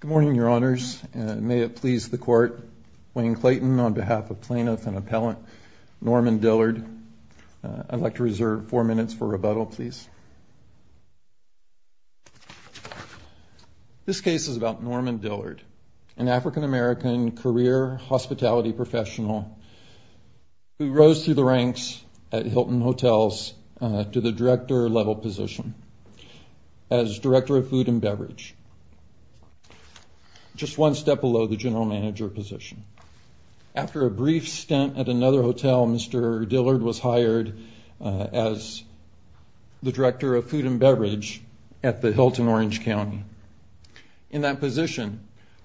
Good morning, Your Honors, and may it please the Court, Wayne Clayton, on behalf of plaintiff and appellant Norman Dillard, I'd like to reserve four minutes for rebuttal, please. This case is about Norman Dillard, an African-American career hospitality professional who rose through the ranks at Hilton Hotels to the director level position. as director of food and beverage, just one step below the general manager position. After a brief stint at another hotel, Mr. Dillard was hired as the director of food and beverage at the Hilton Orange County. In that position,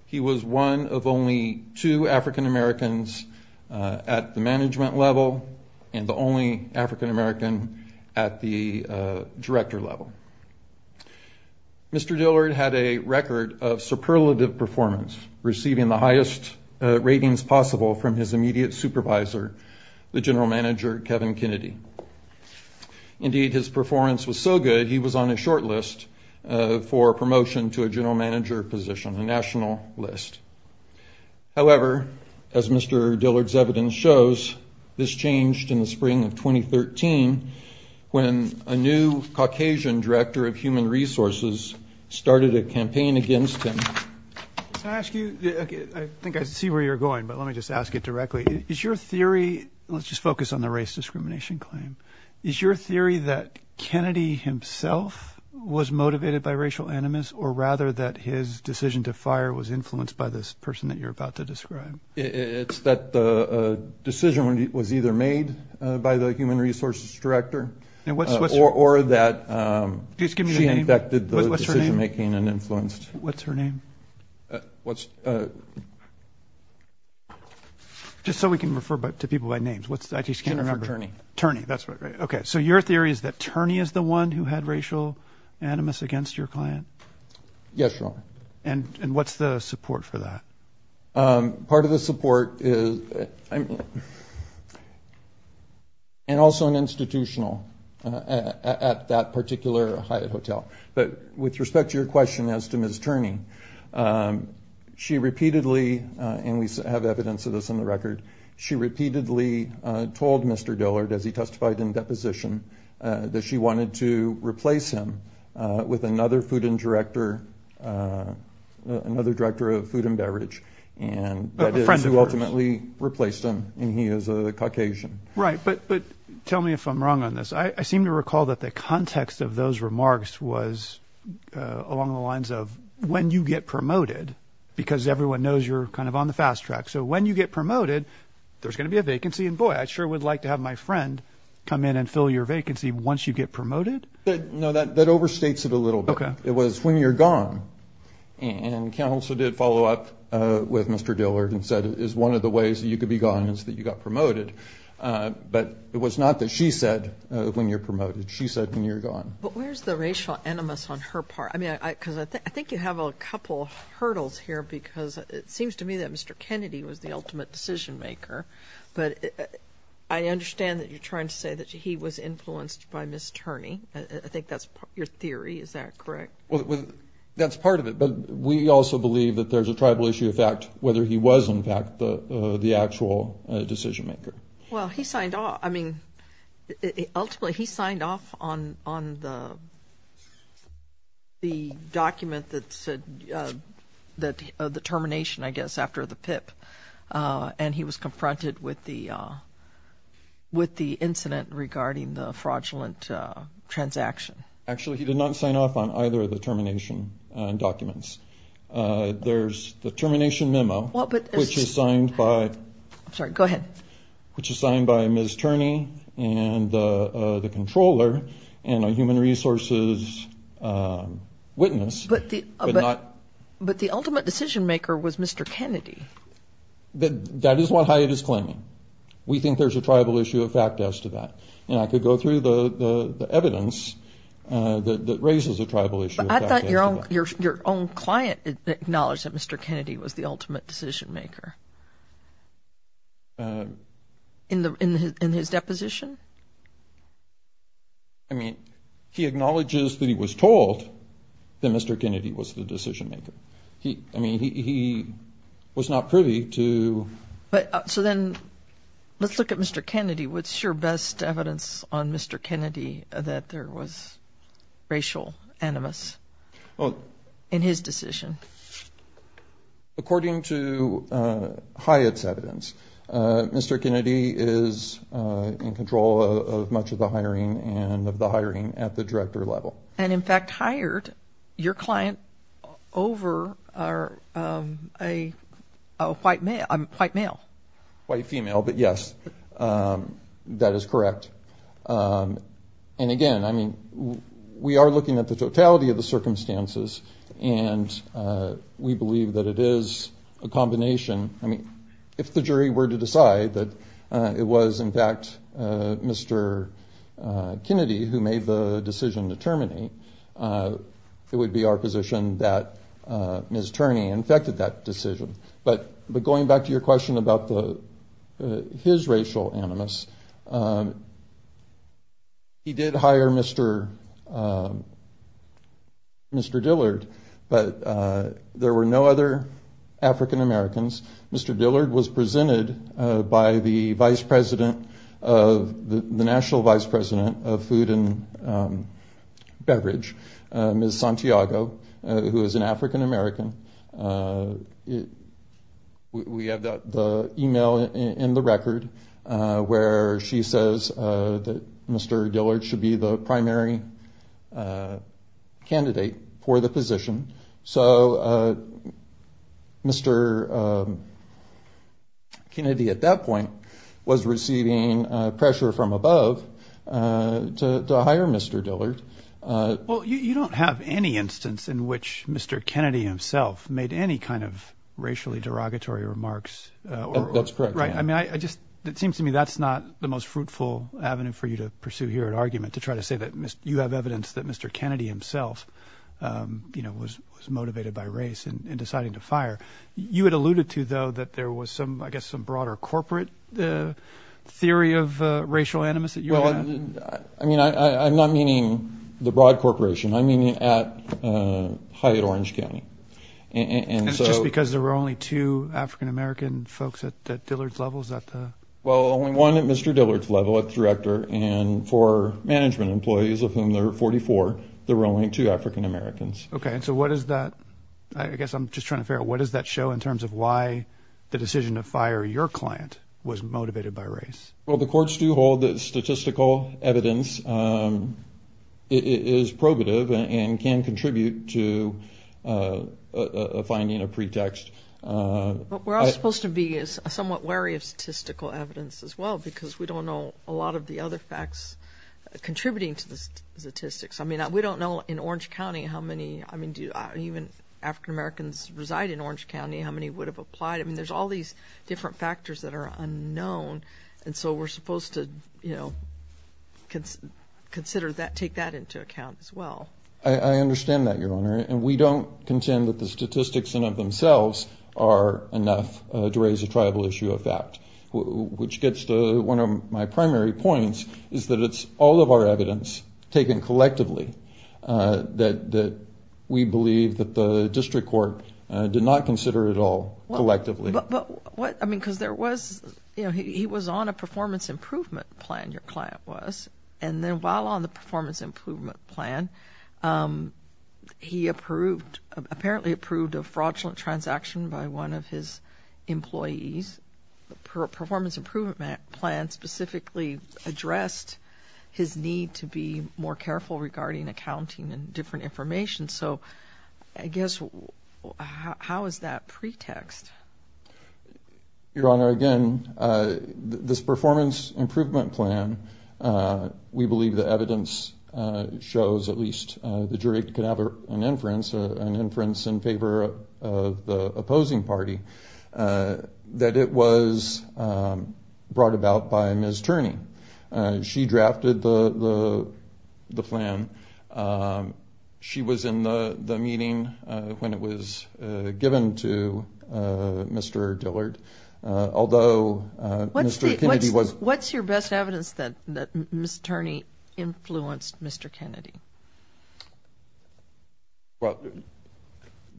he was one of only two African-Americans at the management level and the only African-American at the director level. Mr. Dillard had a record of superlative performance, receiving the highest ratings possible from his immediate supervisor, the general manager, Kevin Kennedy. Indeed, his performance was so good, he was on a short list for promotion to a general manager position, a national list. However, as Mr. Dillard's evidence shows, this changed in the spring of 2013 when a new Caucasian director of human resources started a campaign against him. Can I ask you, I think I see where you're going, but let me just ask it directly. Is your theory, let's just focus on the race discrimination claim. Is your theory that Kennedy himself was motivated by racial animus or rather that his decision to fire was influenced by this person that you're about to describe? It's that the decision was either made by the human resources director or that she infected the decision making and influenced. What's her name? What's. Just so we can refer to people by names, what's that? He's going to turn a turn. That's right. OK, so your theory is that Turney is the one who had racial animus against your client. Yes. And what's the support for that? Part of the support is. And also an institutional at that particular Hyatt Hotel. But with respect to your question as to Miss Turney, she repeatedly and we have evidence of this in the record. She repeatedly told Mr. Dillard as he testified in deposition that she wanted to replace him with another food and director, another director of food and beverage. And friends who ultimately replaced him. And he is a Caucasian. Right. But tell me if I'm wrong on this. I seem to recall that the context of those remarks was along the lines of when you get promoted because everyone knows you're kind of on the fast track. So when you get promoted, there's going to be a vacancy. And boy, I sure would like to have my friend come in and fill your vacancy once you get promoted. No, that that overstates it a little bit. It was when you're gone. And Council did follow up with Mr. Dillard and said is one of the ways you could be gone is that you got promoted. But it was not that she said when you're promoted, she said when you're gone. But where's the racial animus on her part? I mean, I think you have a couple of hurdles here because it seems to me that Mr. Kennedy was the ultimate decision maker. But I understand that you're trying to say that he was influenced by Miss Turney. I think that's your theory. Is that correct? Well, that's part of it. But we also believe that there's a tribal issue of fact, whether he was, in fact, the actual decision maker. Well, he signed off. I mean, ultimately, he signed off on the document that said that the termination, I guess, after the PIP. And he was confronted with the incident regarding the fraudulent transaction. Actually, he did not sign off on either of the termination documents. There's the termination memo, which is signed by Miss Turney and the controller and a human resources witness. But the ultimate decision maker was Mr. Kennedy. That is what Hyatt is claiming. We think there's a tribal issue of fact as to that. And I could go through the evidence that raises a tribal issue of fact. But I thought your own client acknowledged that Mr. Kennedy was the ultimate decision maker in his deposition. I mean, he acknowledges that he was told that Mr. Kennedy was the decision maker. I mean, he was not privy to. So then let's look at Mr. Kennedy. What's your best evidence on Mr. Kennedy that there was racial animus in his decision? According to Hyatt's evidence, Mr. Kennedy is in control of much of the hiring and of the hiring at the director level. And in fact, hired your client over a white male, white male, white female. But yes, that is correct. And again, I mean, we are looking at the totality of the circumstances and we believe that it is a combination. I mean, if the jury were to decide that it was, in fact, Mr. Kennedy who made the decision to terminate, it would be our position that Ms. Turney infected that decision. But going back to your question about his racial animus, he did hire Mr. Mr. Dillard. But there were no other African-Americans. Mr. Dillard was presented by the vice president of the National Vice President of Food and Beverage, Ms. Santiago, who is an African-American. We have the email in the record where she says that Mr. Dillard should be the primary candidate for the position. So Mr. Kennedy at that point was receiving pressure from above to hire Mr. Dillard. Well, you don't have any instance in which Mr. Kennedy himself made any kind of racially derogatory remarks. That's correct. Right. I mean, I just it seems to me that's not the most fruitful avenue for you to pursue here an argument, to try to say that you have evidence that Mr. Kennedy himself was motivated by race and deciding to fire. You had alluded to, though, that there was some, I guess, some broader corporate theory of racial animus. Well, I mean, I'm not meaning the broad corporation. I mean, at Hyatt Orange County. And so because there were only two African-American folks at Dillard's levels that. Well, only one at Mr. Dillard's level, a director and four management employees of whom there are 44. There were only two African-Americans. OK. And so what is that? I guess I'm just trying to figure out what does that show in terms of why the decision to fire your client was motivated by race? Well, the courts do hold that statistical evidence is probative and can contribute to finding a pretext. But we're all supposed to be somewhat wary of statistical evidence as well, because we don't know a lot of the other facts contributing to the statistics. I mean, we don't know in Orange County how many. I mean, do even African-Americans reside in Orange County? How many would have applied? I mean, there's all these different factors that are unknown. And so we're supposed to, you know, consider that, take that into account as well. I understand that, Your Honor. And we don't contend that the statistics in of themselves are enough to raise a tribal issue of fact, which gets to one of my primary points is that it's all of our evidence taken collectively, that we believe that the district court did not consider it all collectively. But what I mean, because there was you know, he was on a performance improvement plan. Your client was. And then while on the performance improvement plan, he approved apparently approved a fraudulent transaction by one of his employees. The performance improvement plan specifically addressed his need to be more careful regarding accounting and different information. So I guess how is that pretext? Your Honor, again, this performance improvement plan, we believe the evidence shows at least the jury can have an inference, an inference in favor of the opposing party, that it was brought about by Ms. Turney. She drafted the plan. She was in the meeting when it was given to Mr. Dillard, although Mr. Kennedy was. What's your best evidence that Ms. Turney influenced Mr. Kennedy? Well,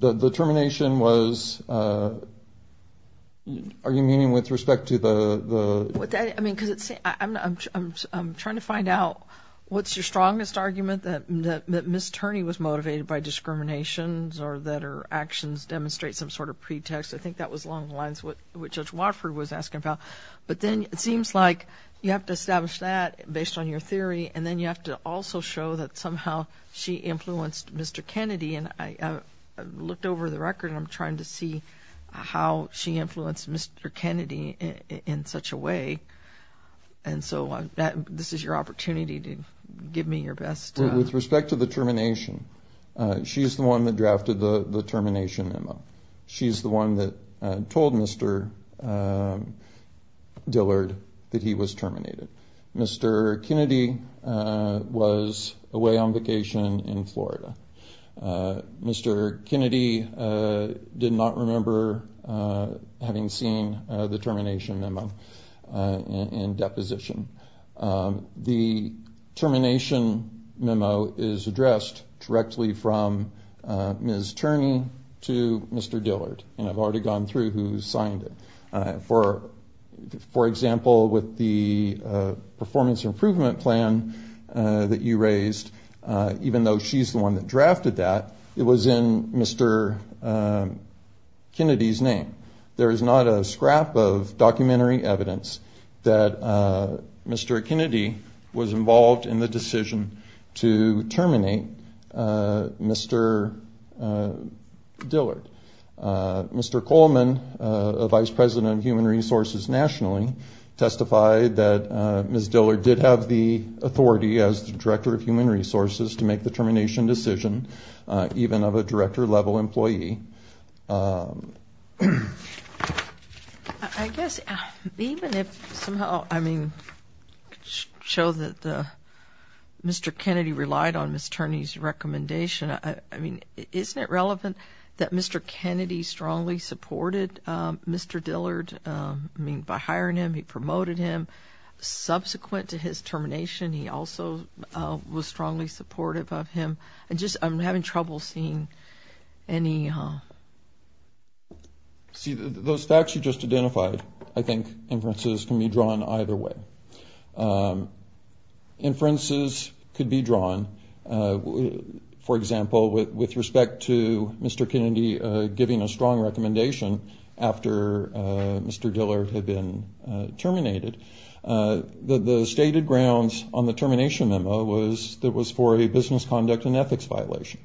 the determination was. Are you meaning with respect to the. I mean, because I'm trying to find out what's your strongest argument that Ms. Turney was motivated by discriminations or that her actions demonstrate some sort of pretext. I think that was along the lines what Judge Watford was asking about. But then it seems like you have to establish that based on your theory. And then you have to also show that somehow she influenced Mr. Kennedy. And I looked over the record. I'm trying to see how she influenced Mr. Kennedy in such a way. And so this is your opportunity to give me your best. With respect to the termination, she is the one that drafted the termination. She's the one that told Mr. Dillard that he was terminated. Mr. Kennedy was away on vacation in Florida. Mr. Kennedy did not remember having seen the termination memo in deposition. The termination memo is addressed directly from Ms. Turney to Mr. Dillard. And I've already gone through who signed it. For example, with the performance improvement plan that you raised, even though she's the one that drafted that, it was in Mr. Kennedy's name. There is not a scrap of documentary evidence that Mr. Kennedy was involved in the decision to terminate Mr. Dillard. Mr. Coleman, a vice president of human resources nationally, testified that Ms. Dillard did have the authority, as the director of human resources, to make the termination decision, even of a director-level employee. I guess even if somehow, I mean, show that Mr. Kennedy relied on Ms. Turney's recommendation, I mean, isn't it relevant that Mr. Kennedy strongly supported Mr. Dillard? I mean, by hiring him, he promoted him. Subsequent to his termination, he also was strongly supportive of him. I'm having trouble seeing any. See, those facts you just identified, I think, inferences can be drawn either way. Inferences could be drawn, for example, with respect to Mr. Kennedy giving a strong recommendation after Mr. Dillard had been terminated. The stated grounds on the termination memo was that it was for a business conduct and ethics violation.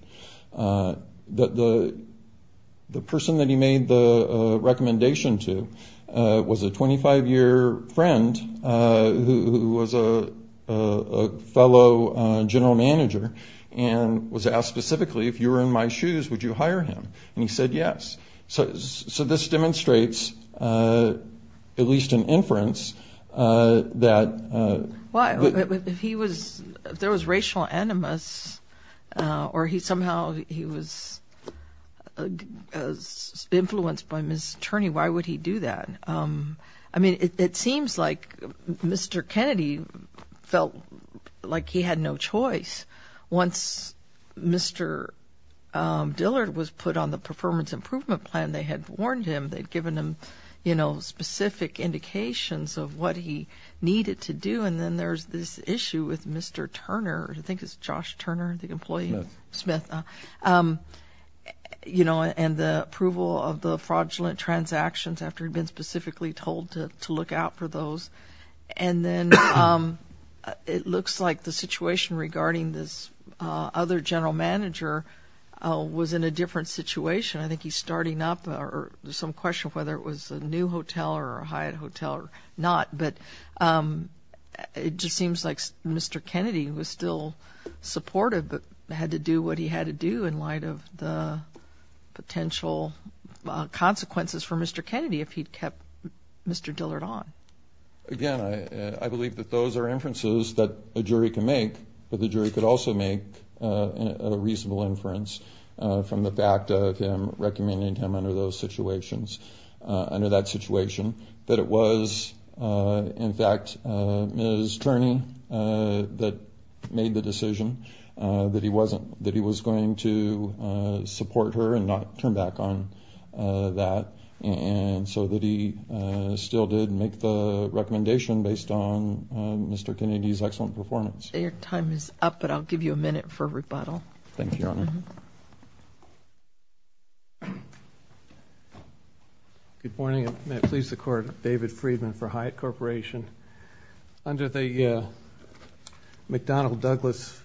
The person that he made the recommendation to was a 25-year friend who was a fellow general manager and was asked specifically, if you were in my shoes, would you hire him? And he said yes. So this demonstrates at least an inference that he was. If there was racial animus or somehow he was influenced by Ms. Turney, why would he do that? I mean, it seems like Mr. Kennedy felt like he had no choice. Once Mr. Dillard was put on the performance improvement plan, they had warned him. They had given him specific indications of what he needed to do. And then there's this issue with Mr. Turner. I think it's Josh Turner, the employee. Smith. Smith. And the approval of the fraudulent transactions after he'd been specifically told to look out for those. And then it looks like the situation regarding this other general manager was in a different situation. I think he's starting up. There's some question of whether it was a new hotel or a Hyatt hotel or not. But it just seems like Mr. Kennedy was still supportive, but had to do what he had to do in light of the potential consequences for Mr. Kennedy if he'd kept Mr. Dillard on. Again, I believe that those are inferences that a jury can make, but the jury could also make a reasonable inference from the fact of him recommending him under those situations, under that situation, that it was, in fact, Ms. Turney that made the decision that he wasn't, that he was going to support her and not turn back on that, and so that he still did make the recommendation based on Mr. Kennedy's excellent performance. Your time is up, but I'll give you a minute for rebuttal. Thank you, Your Honor. Good morning. May it please the Court, David Friedman for Hyatt Corporation. Under the McDonnell-Douglas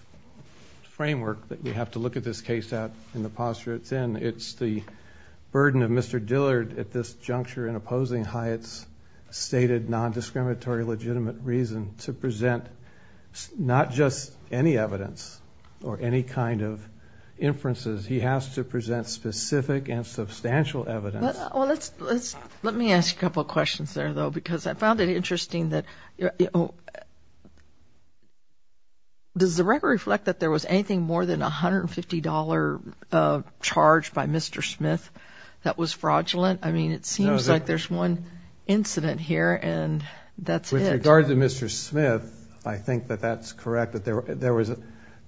framework that we have to look at this case at in the posture it's in, it's the burden of Mr. Dillard at this juncture in opposing Hyatt's stated nondiscriminatory legitimate reason to present not just any evidence or any kind of inferences. He has to present specific and substantial evidence. Well, let me ask a couple of questions there, though, because I found it interesting that, you know, does the record reflect that there was anything more than a $150 charge by Mr. Smith that was fraudulent? I mean, it seems like there's one incident here, and that's it. With regard to Mr. Smith, I think that that's correct, that there was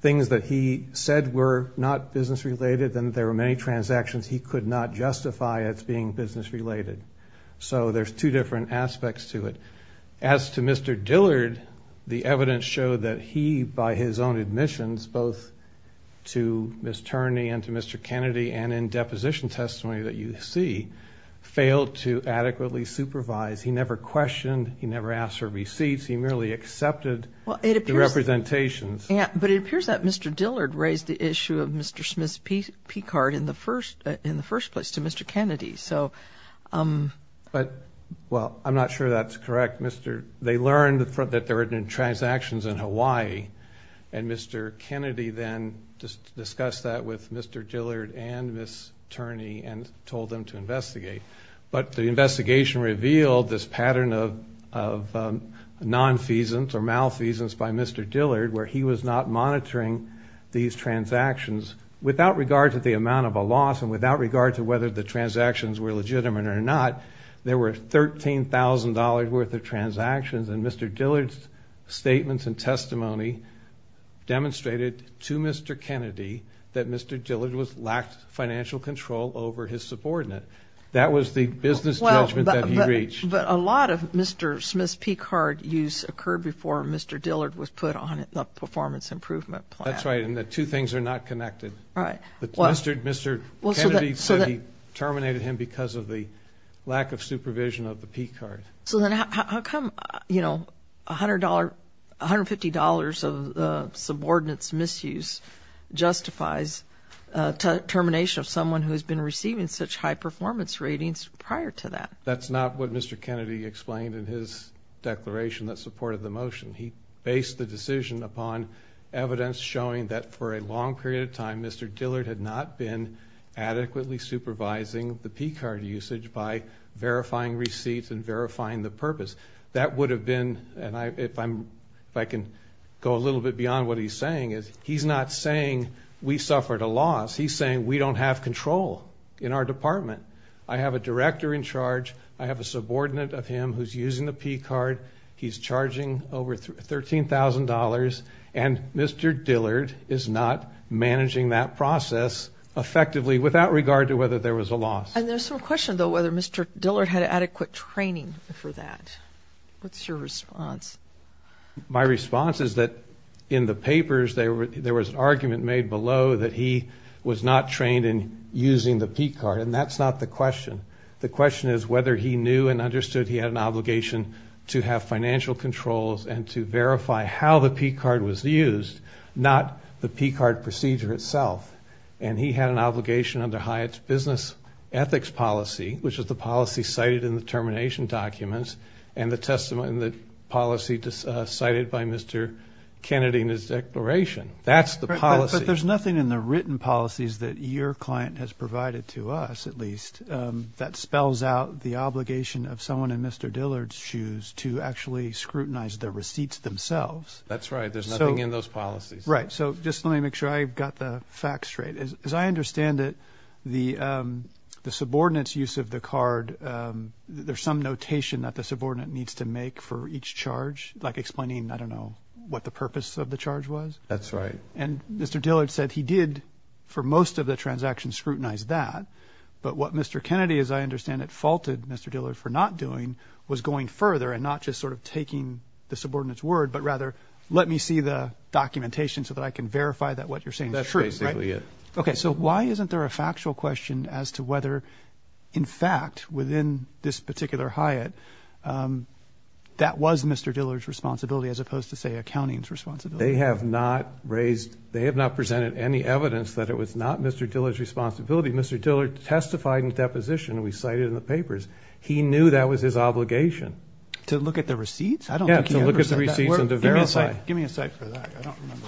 things that he said were not business-related, and there were many transactions he could not justify as being business-related. So there's two different aspects to it. As to Mr. Dillard, the evidence showed that he, by his own admissions, both to Ms. Turney and to Mr. Kennedy and in deposition testimony that you see, failed to adequately supervise. He never questioned. He never asked for receipts. He merely accepted the representations. But it appears that Mr. Dillard raised the issue of Mr. Smith's P-Card in the first place to Mr. Kennedy. But, well, I'm not sure that's correct. They learned that there had been transactions in Hawaii, and Mr. Kennedy then discussed that with Mr. Dillard and Ms. Turney and told them to investigate. But the investigation revealed this pattern of nonfeasance or malfeasance by Mr. Dillard where he was not monitoring these transactions without regard to the amount of a loss and without regard to whether the transactions were legitimate or not. There were $13,000 worth of transactions, and Mr. Dillard's statements and testimony demonstrated to Mr. Kennedy that Mr. Dillard lacked financial control over his subordinate. That was the business judgment that he reached. But a lot of Mr. Smith's P-Card use occurred before Mr. Dillard was put on the performance improvement plan. That's right, and the two things are not connected. Right. Mr. Kennedy said he terminated him because of the lack of supervision of the P-Card. So then how come, you know, $150 of the subordinate's misuse justifies termination of someone who has been receiving such high performance ratings prior to that? That's not what Mr. Kennedy explained in his declaration that supported the motion. He based the decision upon evidence showing that for a long period of time, Mr. Dillard had not been adequately supervising the P-Card usage by verifying receipts and verifying the purpose. That would have been, and if I can go a little bit beyond what he's saying, is he's not saying we suffered a loss. He's saying we don't have control in our department. I have a director in charge. I have a subordinate of him who's using the P-Card. He's charging over $13,000, and Mr. Dillard is not managing that process effectively without regard to whether there was a loss. And there's some question, though, whether Mr. Dillard had adequate training for that. What's your response? My response is that in the papers there was an argument made below that he was not trained in using the P-Card, and that's not the question. The question is whether he knew and understood he had an obligation to have financial controls and to verify how the P-Card was used, not the P-Card procedure itself. And he had an obligation under Hyatt's business ethics policy, which is the policy cited in the termination documents, and the policy cited by Mr. Kennedy in his declaration. That's the policy. But there's nothing in the written policies that your client has provided to us, at least, that spells out the obligation of someone in Mr. Dillard's shoes to actually scrutinize the receipts themselves. That's right. There's nothing in those policies. Right. So just let me make sure I've got the facts straight. As I understand it, the subordinate's use of the card, there's some notation that the subordinate needs to make for each charge, like explaining, I don't know, what the purpose of the charge was? That's right. And Mr. Dillard said he did, for most of the transactions, scrutinize that. But what Mr. Kennedy, as I understand it, faulted Mr. Dillard for not doing was going further and not just sort of taking the subordinate's word, but rather let me see the documentation so that I can verify that what you're saying is true. That's basically it. Okay. So why isn't there a factual question as to whether, in fact, within this particular hiat, that was Mr. Dillard's responsibility as opposed to, say, accounting's responsibility? They have not raised ñ they have not presented any evidence that it was not Mr. Dillard's responsibility. Mr. Dillard testified in deposition, and we cite it in the papers. He knew that was his obligation. To look at the receipts? I don't think he ever said that. Yeah, to look at the receipts and to verify. Give me a second for that. I don't remember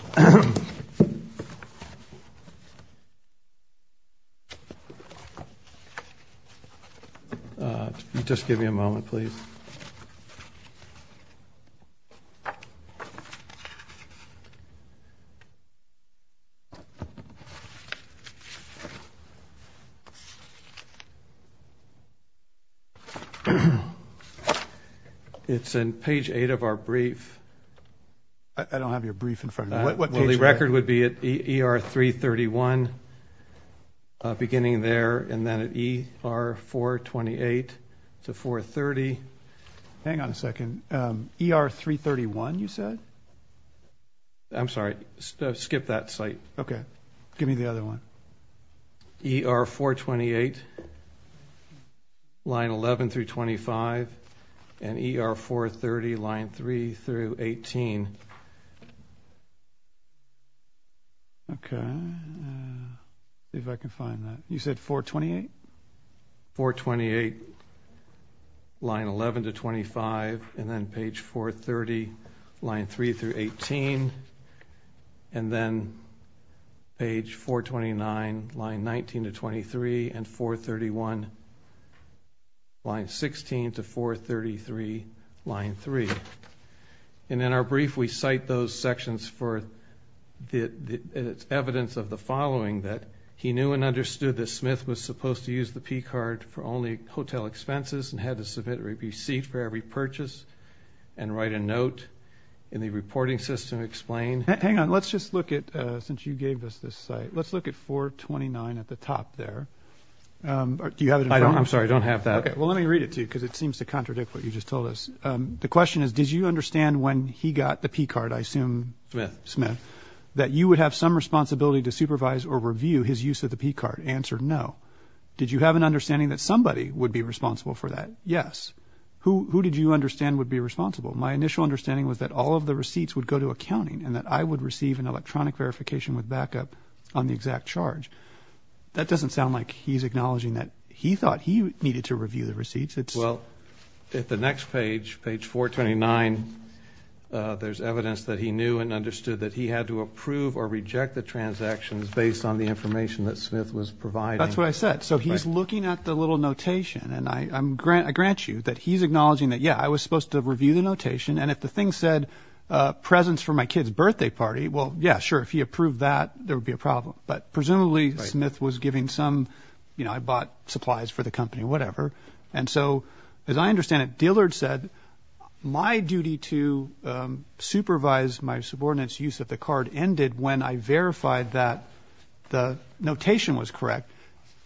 that. Just give me a moment, please. Okay. It's in page 8 of our brief. I don't have your brief in front of me. What page is that? Well, the record would be at ER 331, beginning there, and then at ER 428 to 430. Hang on a second. ER 331, you said? I'm sorry. Skip that site. Okay. Give me the other one. ER 428, line 11 through 25, and ER 430, line 3 through 18. Okay. See if I can find that. You said 428? 428, line 11 to 25, and then page 430, line 3 through 18, and then page 429, line 19 to 23, and 431, line 16 to 433, line 3. And in our brief, we cite those sections for evidence of the following, that he knew and understood that Smith was supposed to use the P-Card for only hotel expenses and had to submit a receipt for every purchase and write a note in the reporting system to explain. Hang on. Let's just look at, since you gave us this site, let's look at 429 at the top there. Do you have it in front of you? I'm sorry. I don't have that. Okay. Well, let me read it to you because it seems to contradict what you just told us. The question is, did you understand when he got the P-Card, I assume Smith, that you would have some responsibility to supervise or review his use of the P-Card? Answer, no. Did you have an understanding that somebody would be responsible for that? Yes. Who did you understand would be responsible? My initial understanding was that all of the receipts would go to accounting and that I would receive an electronic verification with backup on the exact charge. That doesn't sound like he's acknowledging that he thought he needed to review the receipts. Well, at the next page, page 429, there's evidence that he knew and understood that he had to approve or reject the transactions based on the information that Smith was providing. That's what I said. So he's looking at the little notation, and I grant you that he's acknowledging that, yeah, I was supposed to review the notation, and if the thing said presents for my kid's birthday party, well, yeah, sure. If he approved that, there would be a problem. But presumably Smith was giving some, you know, I bought supplies for the company, whatever. And so, as I understand it, Dillard said, my duty to supervise my subordinate's use of the card ended when I verified that the notation was correct.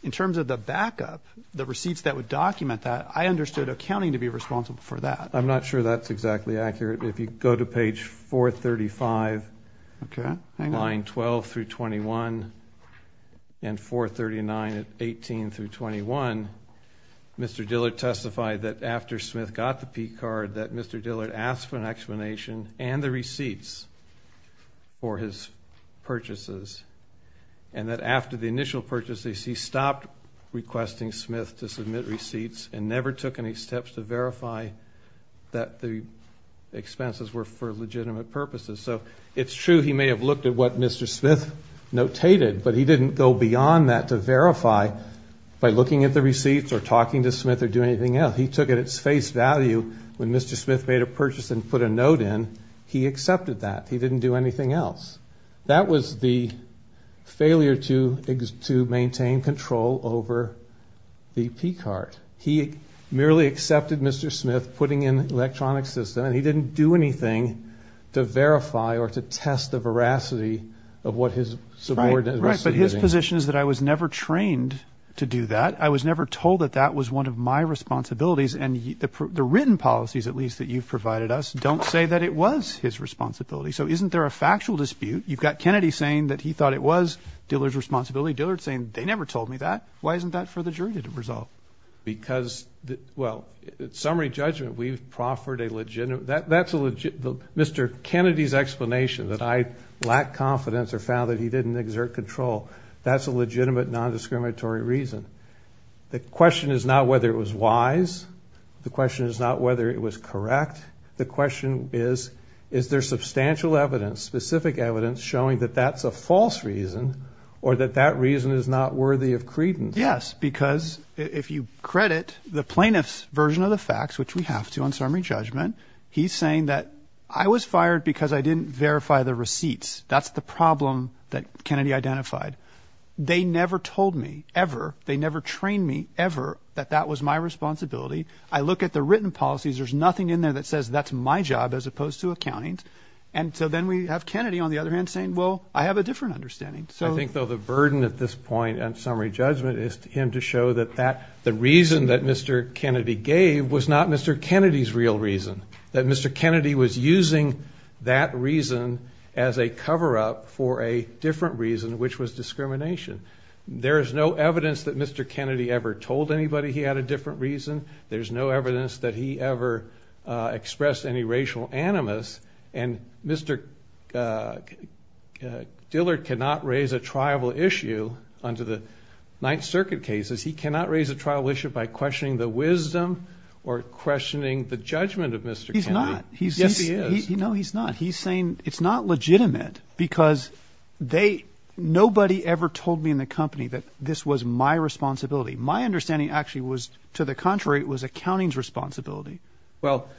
In terms of the backup, the receipts that would document that, I understood accounting to be responsible for that. I'm not sure that's exactly accurate. If you go to page 435, line 12 through 21, and 439 at 18 through 21, Mr. Dillard testified that after Smith got the P card, that Mr. Dillard asked for an explanation and the receipts for his purchases, and that after the initial purchases, he stopped requesting Smith to submit receipts and never took any steps to verify that the expenses were for legitimate purposes. So it's true he may have looked at what Mr. Smith notated, but he didn't go beyond that to verify by looking at the receipts or talking to Smith or doing anything else. He took at its face value when Mr. Smith made a purchase and put a note in. He accepted that. He didn't do anything else. That was the failure to maintain control over the P card. He merely accepted Mr. Smith putting in an electronic system, and he didn't do anything to verify or to test the veracity of what his subordinates were submitting. Right, but his position is that I was never trained to do that. I was never told that that was one of my responsibilities, and the written policies, at least, that you've provided us don't say that it was his responsibility. So isn't there a factual dispute? You've got Kennedy saying that he thought it was Dillard's responsibility, Dillard saying they never told me that. Why isn't that for the jury to resolve? Because, well, in summary judgment, we've proffered a legitimate Mr. Kennedy's explanation that I lack confidence or found that he didn't exert control. That's a legitimate nondiscriminatory reason. The question is not whether it was wise. The question is not whether it was correct. The question is, is there substantial evidence, specific evidence, showing that that's a false reason or that that reason is not worthy of credence? Yes, because if you credit the plaintiff's version of the facts, which we have to on summary judgment, he's saying that I was fired because I didn't verify the receipts. That's the problem that Kennedy identified. They never told me, ever. They never trained me, ever, that that was my responsibility. I look at the written policies. There's nothing in there that says that's my job as opposed to accounting. And so then we have Kennedy, on the other hand, saying, well, I have a different understanding. I think, though, the burden at this point on summary judgment is for him to show that the reason that Mr. Kennedy gave was not Mr. Kennedy's real reason, that Mr. Kennedy was using that reason as a cover-up for a different reason, which was discrimination. There is no evidence that Mr. Kennedy ever told anybody he had a different reason. There's no evidence that he ever expressed any racial animus. And Mr. Dillard cannot raise a tribal issue under the Ninth Circuit cases. He cannot raise a tribal issue by questioning the wisdom or questioning the judgment of Mr. Kennedy. Yes, he is. No, he's not. He's saying it's not legitimate because nobody ever told me in the company that this was my responsibility. My understanding actually was, to the contrary, it was accounting's responsibility.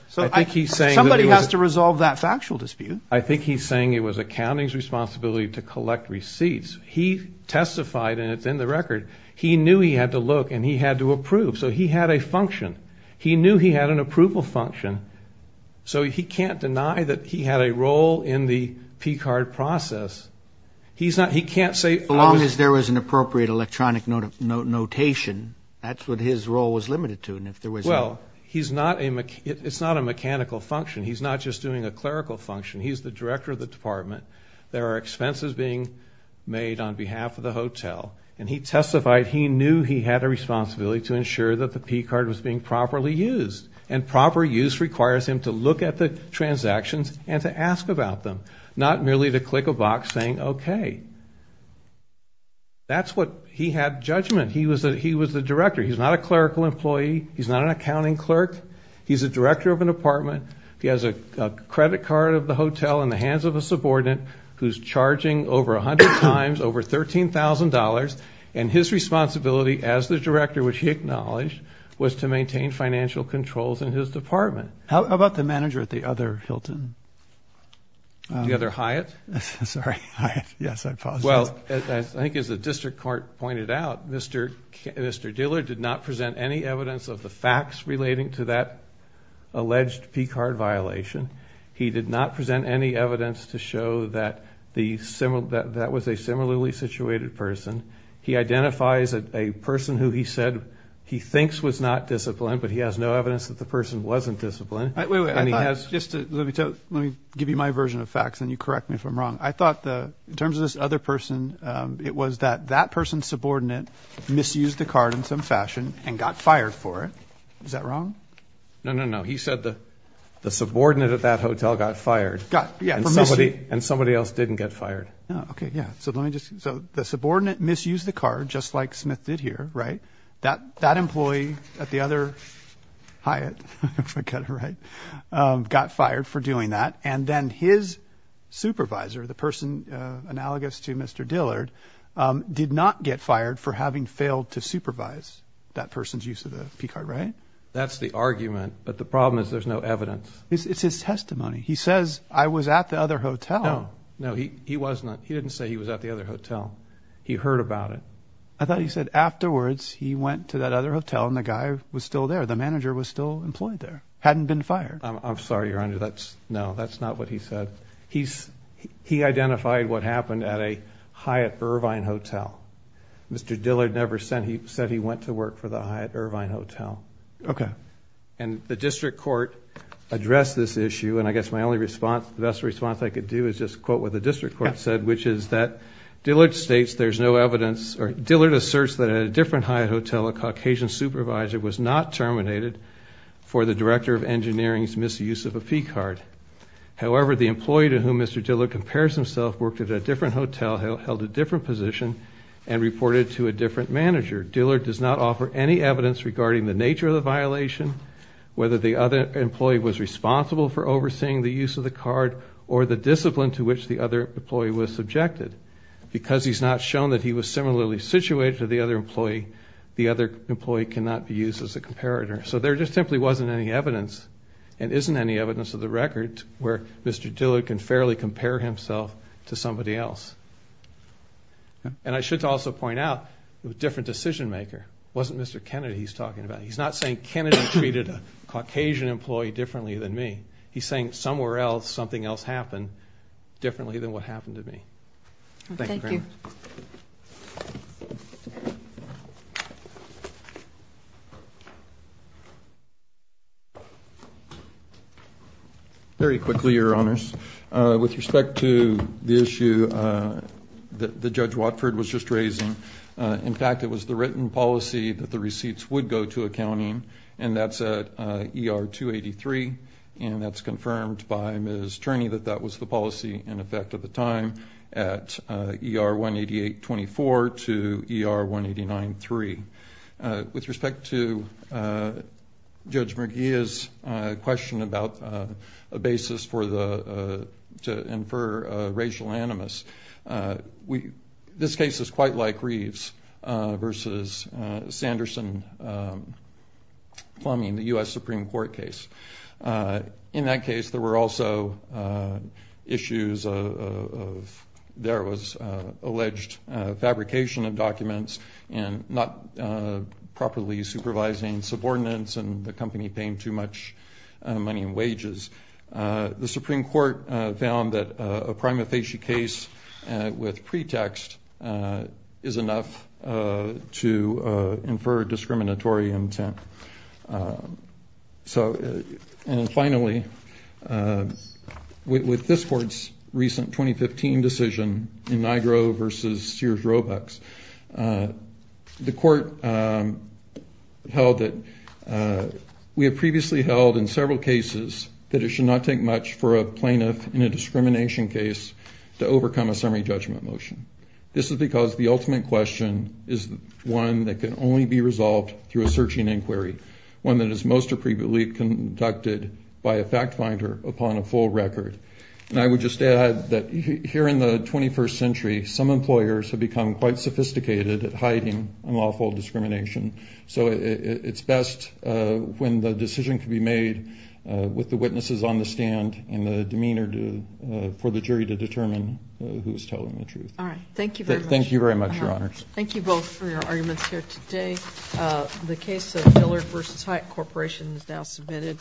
Somebody has to resolve that factual dispute. I think he's saying it was accounting's responsibility to collect receipts. He testified, and it's in the record, he knew he had to look and he had to approve. So he had a function. He knew he had an approval function. So he can't deny that he had a role in the PCARD process. He can't say, as long as there was an appropriate electronic notation, that's what his role was limited to. Well, he's not a mechanical function. He's not just doing a clerical function. He's the director of the department. There are expenses being made on behalf of the hotel. And he testified he knew he had a responsibility to ensure that the PCARD was being properly used. And proper use requires him to look at the transactions and to ask about them, not merely to click a box saying okay. That's what he had judgment. He was the director. He's not a clerical employee. He's not an accounting clerk. He's the director of an apartment. He has a credit card of the hotel in the hands of a subordinate who's charging over 100 times over $13,000. And his responsibility as the director, which he acknowledged, was to maintain financial controls in his department. How about the manager at the other Hilton? The other Hyatt? Sorry, Hyatt. Yes, I paused. Well, I think as the district court pointed out, Mr. Diller did not present any evidence of the facts relating to that alleged PCARD violation. He did not present any evidence to show that that was a similarly situated person. He identifies a person who he said he thinks was not disciplined, but he has no evidence that the person wasn't disciplined. Let me give you my version of facts, and you correct me if I'm wrong. I thought in terms of this other person, it was that that person's subordinate misused the card in some fashion and got fired for it. Is that wrong? No, no, no. He said the subordinate at that hotel got fired. Yeah, for misusing. And somebody else didn't get fired. Okay, yeah. So the subordinate misused the card, just like Smith did here, right? That employee at the other Hyatt, if I got it right, got fired for doing that. And then his supervisor, the person analogous to Mr. Dillard, did not get fired for having failed to supervise that person's use of the PCARD, right? That's the argument, but the problem is there's no evidence. It's his testimony. He says, I was at the other hotel. No, no, he wasn't. He didn't say he was at the other hotel. He heard about it. I thought he said afterwards he went to that other hotel, and the guy was still there. The manager was still employed there. Hadn't been fired. I'm sorry, Your Honor. No, that's not what he said. He identified what happened at a Hyatt-Irvine hotel. Mr. Dillard never said he went to work for the Hyatt-Irvine hotel. Okay. And the district court addressed this issue, and I guess my only response, the best response I could do is just quote what the district court said, which is that Dillard states there's no evidence, or Dillard asserts that at a different Hyatt hotel, a Caucasian supervisor was not terminated for the director of engineering's misuse of a fee card. However, the employee to whom Mr. Dillard compares himself worked at a different hotel, held a different position, and reported to a different manager. Dillard does not offer any evidence regarding the nature of the violation, whether the other employee was responsible for overseeing the use of the card, or the discipline to which the other employee was subjected. Because he's not shown that he was similarly situated to the other employee, the other employee cannot be used as a comparator. So there just simply wasn't any evidence, and isn't any evidence of the record, where Mr. Dillard can fairly compare himself to somebody else. And I should also point out a different decision maker. It wasn't Mr. Kennedy he's talking about. He's not saying Kennedy treated a Caucasian employee differently than me. He's saying somewhere else something else happened differently than what happened to me. Thank you very much. Thank you. Very quickly, Your Honors. With respect to the issue that Judge Watford was just raising, in fact it was the written policy that the receipts would go to accounting, and that's at ER-283, and that's confirmed by Ms. Turney that that was the policy in effect at the time at ER-188-24 to ER-189-3. With respect to Judge Merguia's question about a basis to infer racial animus, this case is quite like Reeves versus Sanderson-Plumbing, the U.S. Supreme Court case. In that case, there were also issues of there was alleged fabrication of documents and not properly supervising subordinates and the company paying too much money in wages. The Supreme Court found that a prima facie case with pretext is enough to infer discriminatory intent. And finally, with this Court's recent 2015 decision in Nigro versus Sears-Roebucks, the Court held that we have previously held in several cases that it should not take much for a plaintiff in a discrimination case to overcome a summary judgment motion. This is because the ultimate question is one that can only be resolved through a searching inquiry, one that is most appropriately conducted by a fact finder upon a full record. And I would just add that here in the 21st century, some employers have become quite sophisticated at hiding unlawful discrimination. So it's best when the decision can be made with the witnesses on the stand and the demeanor for the jury to determine who's telling the truth. All right. Thank you very much. Thank you very much, Your Honors. Thank you both for your arguments here today. The case of Dillard versus Hyatt Corporation is now submitted.